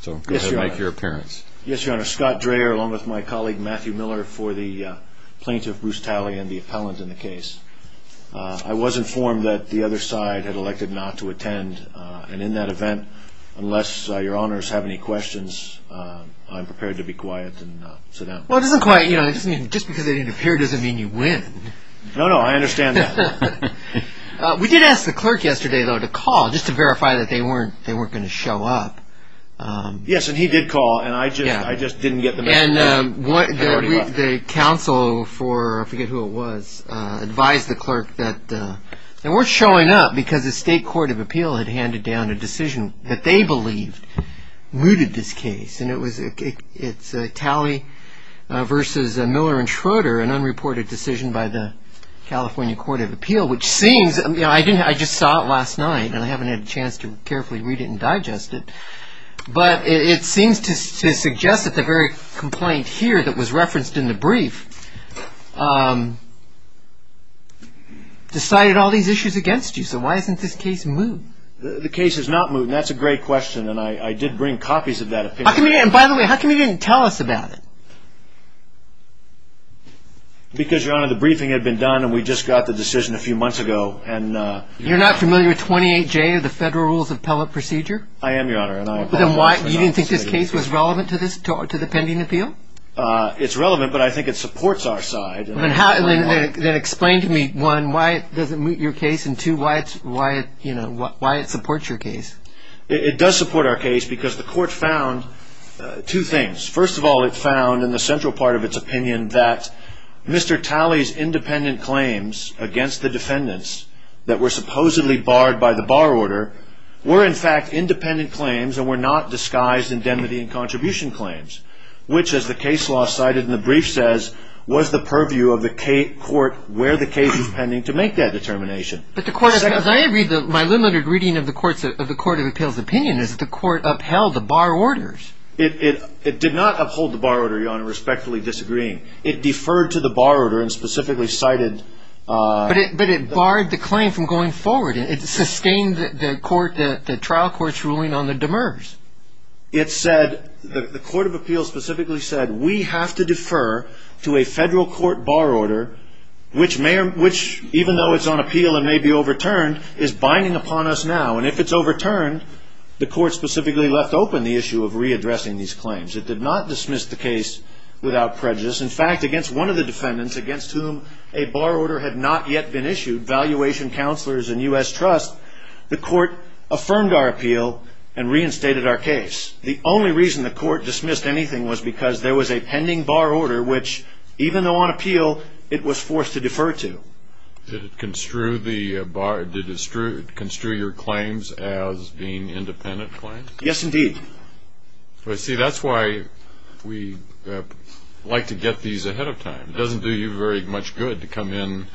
Scott Dreher, along with my colleague Matthew Miller, for the plaintiff Bruce Talley and the appellant in the case. I was informed that the other side had elected not to attend, and in that event, unless your honors have any questions, I'm prepared to be quiet and sit down. Well, it doesn't quite, you know, it doesn't mean, just because they didn't appear doesn't mean you win. No, no, I understand that. We did ask the clerk yesterday, though, to call, just to verify that they weren't going to show up. Yes, and he did call, and I just didn't get the message. And the counsel for, I forget who it was, advised the clerk that they weren't showing up because the state court of appeal had handed down a decision that they believed mooted this case. And it was Talley v. Miller and Schroeder, an unreported decision by the California court of appeal, which seems, you know, I just saw it last night, and I haven't had a chance to carefully read it and digest it. But it seems to suggest that the very complaint here that was referenced in the brief decided all these issues against you. So why isn't this case moot? The case is not moot, and that's a great question, and I did bring copies of that opinion. And by the way, how come you didn't tell us about it? Because, Your Honor, the briefing had been done, and we just got the decision a few months ago. You're not familiar with 28J of the Federal Rules of Appellate Procedure? I am, Your Honor. You didn't think this case was relevant to the pending appeal? It's relevant, but I think it supports our side. Then explain to me, one, why it doesn't moot your case, and two, why it supports your case. It does support our case because the court found two things. First of all, it found in the central part of its opinion that Mr. Talley's independent claims against the defendants that were supposedly barred by the bar order were, in fact, independent claims and were not disguised indemnity and contribution claims, which, as the case law cited in the brief says, was the purview of the court where the case was pending to make that determination. My limited reading of the Court of Appeal's opinion is that the court upheld the bar orders. It did not uphold the bar order, Your Honor, respectfully disagreeing. It deferred to the bar order and specifically cited... But it barred the claim from going forward. It sustained the trial court's ruling on the demers. The Court of Appeal specifically said, we have to defer to a federal court bar order which, even though it's on appeal and may be overturned, is binding upon us now. And if it's overturned, the court specifically left open the issue of readdressing these claims. It did not dismiss the case without prejudice. In fact, against one of the defendants against whom a bar order had not yet been issued, Valuation Counselors and U.S. Trust, the court affirmed our appeal and reinstated our case. The only reason the court dismissed anything was because there was a pending bar order which, even though on appeal, it was forced to defer to. Did it construe your claims as being independent claims? Yes, indeed. See, that's why we like to get these ahead of time. It doesn't do you very much good to come in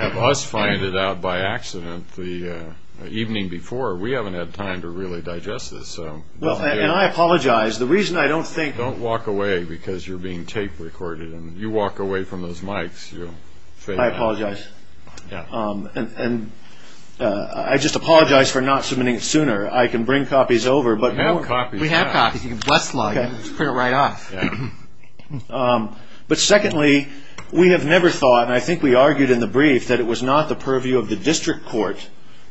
and have us find it out by accident the evening before. We haven't had time to really digest this. Well, and I apologize. The reason I don't think... Don't walk away because you're being tape recorded, and you walk away from those mics. I apologize. And I just apologize for not submitting it sooner. I can bring copies over, but... We have copies. We have copies. You can bust the law. You can just print it right off. But secondly, we have never thought, and I think we argued in the brief, that it was not the purview of the district court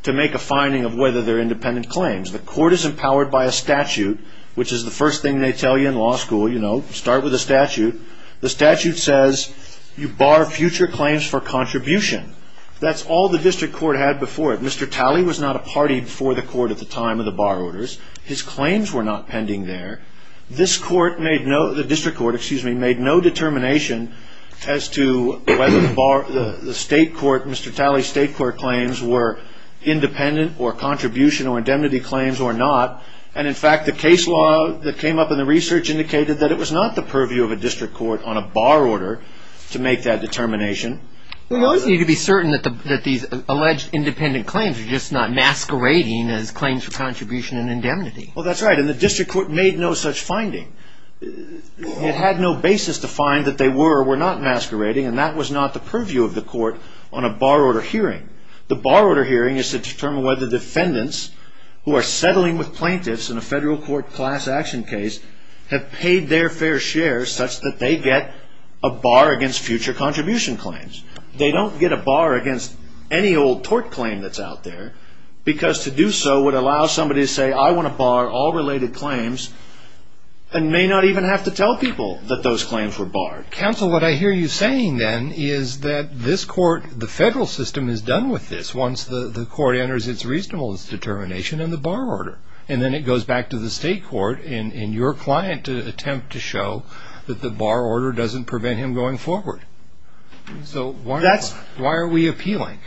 to make a finding of whether they're independent claims. The court is empowered by a statute, which is the first thing they tell you in law school. You know, start with a statute. The statute says you bar future claims for contribution. That's all the district court had before it. Mr. Talley was not a party before the court at the time of the bar orders. His claims were not pending there. The district court made no determination as to whether Mr. Talley's state court claims were independent or contribution or indemnity claims or not. And, in fact, the case law that came up in the research indicated that it was not the purview of a district court on a bar order to make that determination. We always need to be certain that these alleged independent claims are just not masquerading as claims for contribution and indemnity. Well, that's right, and the district court made no such finding. It had no basis to find that they were or were not masquerading, and that was not the purview of the court on a bar order hearing. The bar order hearing is to determine whether defendants who are settling with plaintiffs in a federal court class action case have paid their fair share such that they get a bar against future contribution claims. They don't get a bar against any old tort claim that's out there because to do so would allow somebody to say, I want to bar all related claims and may not even have to tell people that those claims were barred. Counsel, what I hear you saying, then, is that this court, the federal system, is done with this once the court enters its reasonableness determination and the bar order. And then it goes back to the state court and your client to attempt to show that the bar order doesn't prevent him going forward. So why are we appealing?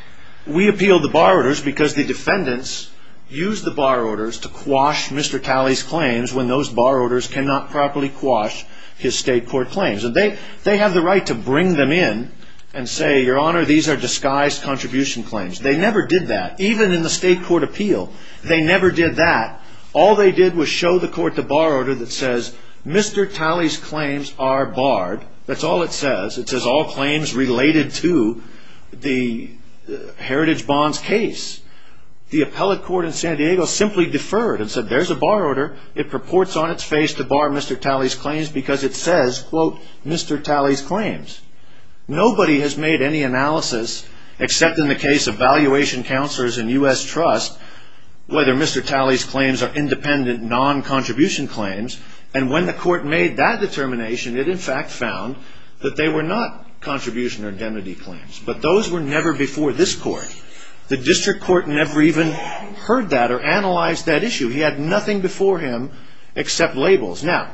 We appeal the bar orders because the defendants use the bar orders to quash Mr. Talley's claims when those bar orders cannot properly quash his state court claims. They have the right to bring them in and say, Your Honor, these are disguised contribution claims. They never did that, even in the state court appeal. They never did that. All they did was show the court the bar order that says Mr. Talley's claims are barred. That's all it says. It says all claims related to the Heritage Bonds case. The appellate court in San Diego simply deferred and said there's a bar order. It purports on its face to bar Mr. Talley's claims because it says, quote, Mr. Talley's claims. Nobody has made any analysis, except in the case of valuation counselors in U.S. Trust, whether Mr. Talley's claims are independent, non-contribution claims. And when the court made that determination, it, in fact, found that they were not contribution or indemnity claims. But those were never before this court. The district court never even heard that or analyzed that issue. He had nothing before him except labels. Now,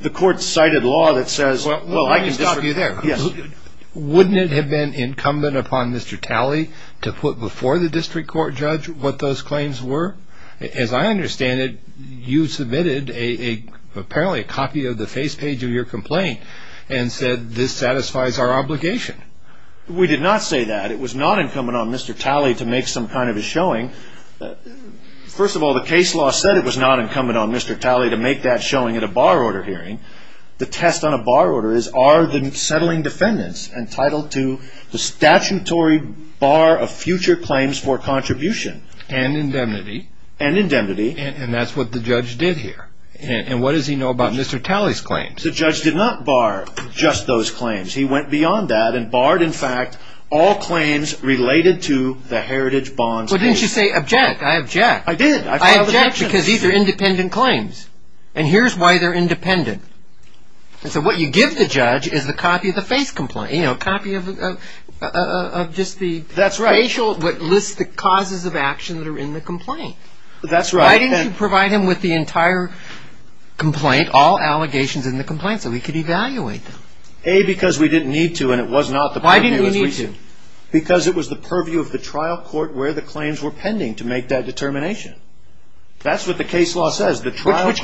the court cited law that says, well, I can district court. Let me stop you there. Yes. Wouldn't it have been incumbent upon Mr. Talley to put before the district court judge what those claims were? As I understand it, you submitted apparently a copy of the face page of your complaint and said this satisfies our obligation. We did not say that. It was not incumbent on Mr. Talley to make some kind of a showing. First of all, the case law said it was not incumbent on Mr. Talley to make that showing at a bar order hearing. The test on a bar order is, are the settling defendants entitled to the statutory bar of future claims for contribution? And indemnity. And indemnity. And that's what the judge did here. And what does he know about Mr. Talley's claims? The judge did not bar just those claims. He went beyond that and barred, in fact, all claims related to the Heritage Bonds case. Well, didn't you say object? I object. I did. I filed an objection. I object because these are independent claims. And here's why they're independent. And so what you give the judge is a copy of the face complaint. You know, a copy of just the facial, what lists the causes of action that are in the complaint. That's right. Why didn't you provide him with the entire complaint, all allegations in the complaint, so he could evaluate them? A, because we didn't need to and it wasn't out the purview as recent. Why didn't we need to? Because it was the purview of the trial court where the claims were pending to make that determination. That's what the case law says. Which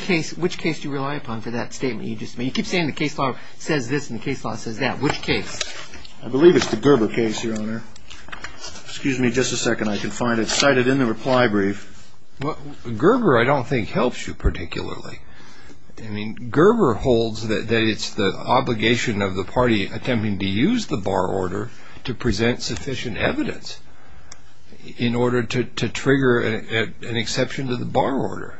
case do you rely upon for that statement you just made? You keep saying the case law says this and the case law says that. Which case? I believe it's the Gerber case, Your Honor. Excuse me just a second. I can find it cited in the reply brief. Gerber, I don't think, helps you particularly. I mean, Gerber holds that it's the obligation of the party attempting to use the bar order to present sufficient evidence in order to trigger an exception to the bar order.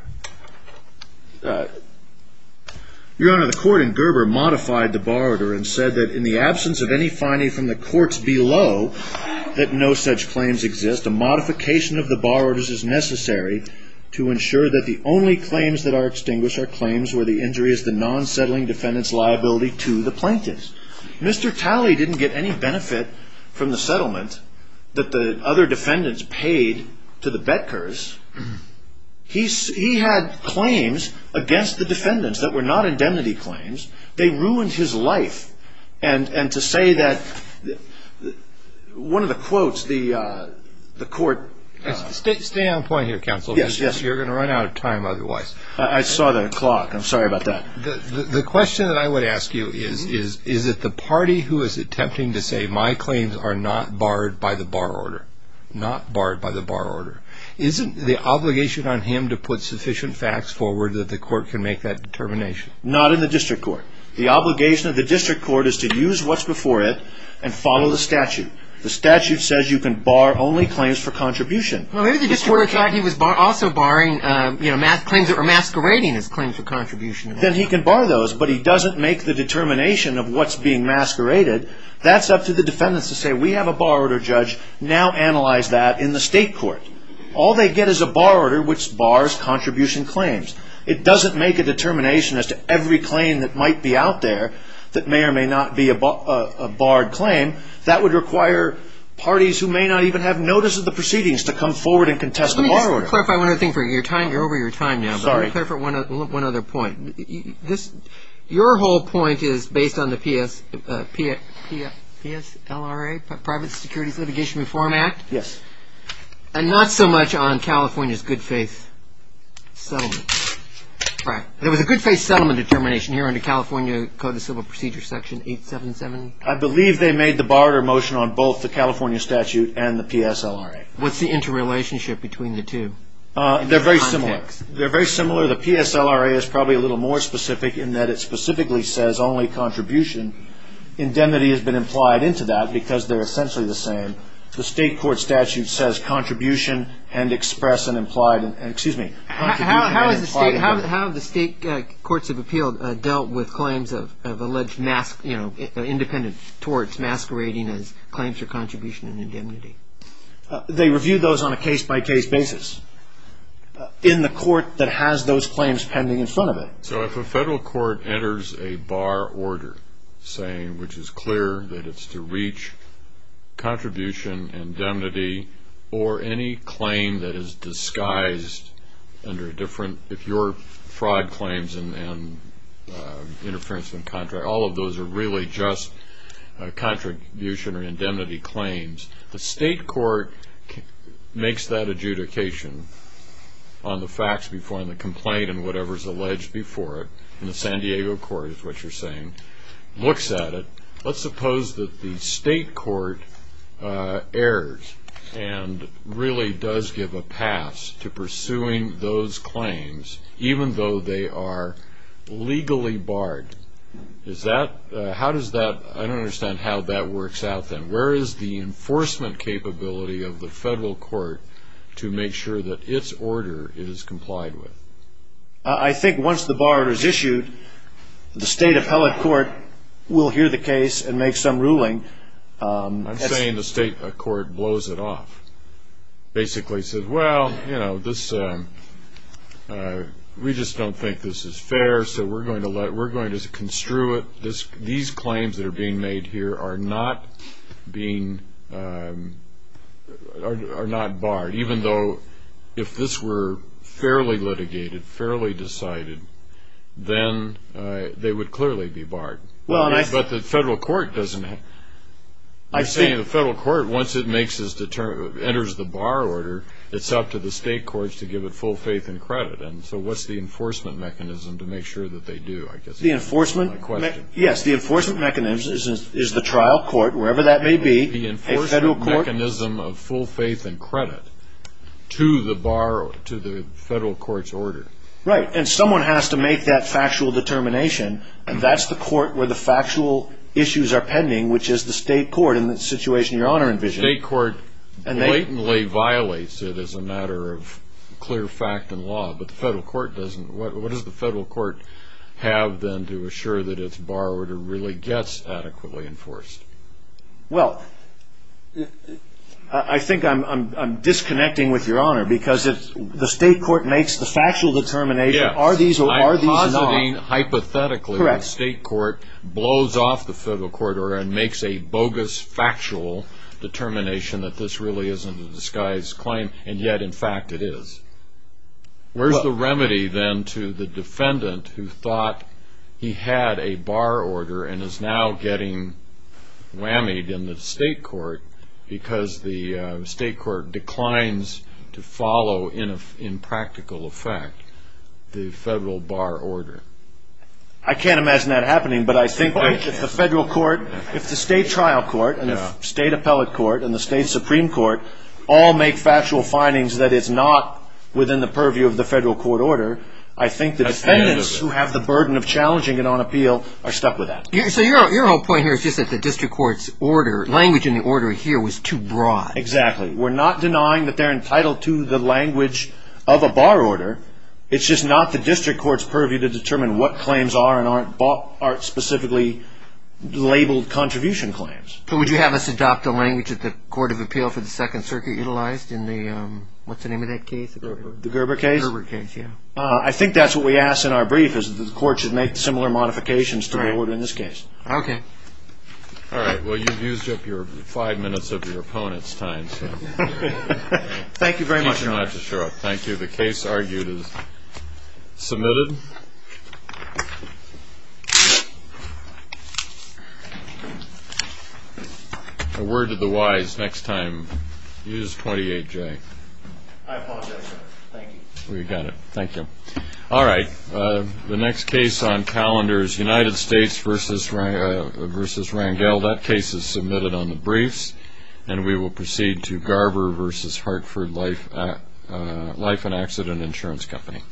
Your Honor, the court in Gerber modified the bar order and said that in the absence of any finding from the courts below that no such claims exist, a modification of the bar orders is necessary to ensure that the only claims that are extinguished are claims where the injury is the non-settling defendant's liability to the plaintiff. Mr. Talley didn't get any benefit from the settlement that the other defendants paid to the Betkers. He had claims against the defendants that were not indemnity claims. They ruined his life. And to say that one of the quotes, the court. Stay on point here, counsel. Yes, yes. You're going to run out of time otherwise. I saw the clock. I'm sorry about that. The question that I would ask you is, is it the party who is attempting to say my claims are not barred by the bar order? Not barred by the bar order. Isn't the obligation on him to put sufficient facts forward that the court can make that determination? Not in the district court. The obligation of the district court is to use what's before it and follow the statute. The statute says you can bar only claims for contribution. Maybe the district court thought he was also barring claims or masquerading as claims for contribution. Then he can bar those, but he doesn't make the determination of what's being masqueraded. That's up to the defendants to say we have a bar order judge. Now analyze that in the state court. All they get is a bar order which bars contribution claims. It doesn't make a determination as to every claim that might be out there that may or may not be a barred claim. That would require parties who may not even have notice of the proceedings to come forward and contest the bar order. Let me just clarify one other thing. You're over your time now. Sorry. Let me clarify one other point. Your whole point is based on the PSLRA, Private Securities Litigation Reform Act? Yes. And not so much on California's good faith settlement. Right. There was a good faith settlement determination here under California Code of Civil Procedure Section 877. I believe they made the bar order motion on both the California statute and the PSLRA. What's the interrelationship between the two? They're very similar. They're very similar. The PSLRA is probably a little more specific in that it specifically says only contribution. Indemnity has been implied into that because they're essentially the same. The state court statute says contribution and express and implied. Excuse me. How have the state courts of appeal dealt with claims of alleged independent torts masquerading as claims for contribution and indemnity? They review those on a case-by-case basis in the court that has those claims pending in front of it. So if a federal court enters a bar order saying which is clear that it's to reach contribution, indemnity, or any claim that is disguised under a different, if you're fraud claims and interference in contract, all of those are really just contribution or indemnity claims, the state court makes that adjudication on the facts before in the complaint and whatever is alleged before it, and the San Diego court is what you're saying, looks at it. Let's suppose that the state court errs and really does give a pass to pursuing those claims, even though they are legally barred. Is that, how does that, I don't understand how that works out then. Where is the enforcement capability of the federal court to make sure that its order is complied with? I think once the bar is issued, the state appellate court will hear the case and make some ruling. I'm saying the state court blows it off, basically says, well, you know, this, we just don't think this is fair, so we're going to let, we're going to construe it. These claims that are being made here are not being, are not barred, even though if this were fairly litigated, fairly decided, then they would clearly be barred. But the federal court doesn't, you're saying the federal court, once it makes its, enters the bar order, it's up to the state courts to give it full faith and credit, and so what's the enforcement mechanism to make sure that they do? The enforcement, yes, the enforcement mechanism is the trial court, wherever that may be. The enforcement mechanism of full faith and credit to the bar, to the federal court's order. Right, and someone has to make that factual determination, and that's the court where the factual issues are pending, which is the state court in the situation Your Honor envisions. The state court blatantly violates it as a matter of clear fact and law, but the federal court doesn't, what does the federal court have then to assure that its bar order really gets adequately enforced? Well, I think I'm disconnecting with Your Honor, because if the state court makes the factual determination, are these or are these not? Hypothetically, the state court blows off the federal court order and makes a bogus factual determination that this really isn't a disguised claim, and yet in fact it is. Where's the remedy then to the defendant who thought he had a bar order and is now getting whammied in the state court because the state court declines to follow in practical effect the federal bar order? I can't imagine that happening, but I think if the federal court, if the state trial court, and the state appellate court, and the state supreme court, all make factual findings that it's not within the purview of the federal court order, I think the defendants who have the burden of challenging it on appeal are stuck with that. So your whole point here is just that the district court's language in the order here was too broad. Exactly. We're not denying that they're entitled to the language of a bar order, it's just not the district court's purview to determine what claims are and aren't specifically labeled contribution claims. So would you have us adopt the language that the Court of Appeal for the Second Circuit utilized in the, what's the name of that case? The Gerber case? The Gerber case, yeah. I think that's what we asked in our brief, is that the court should make similar modifications to the order in this case. Okay. All right. Well, you've used up five minutes of your opponent's time. Thank you very much. You don't have to show up. Thank you. The case argued is submitted. A word to the wise next time. Use 28J. I apologize, sir. Thank you. We got it. Thank you. All right. The next case on calendar is United States v. Rangel. That case is submitted on the briefs, and we will proceed to Gerber v. Hartford Life and Accident Insurance Company.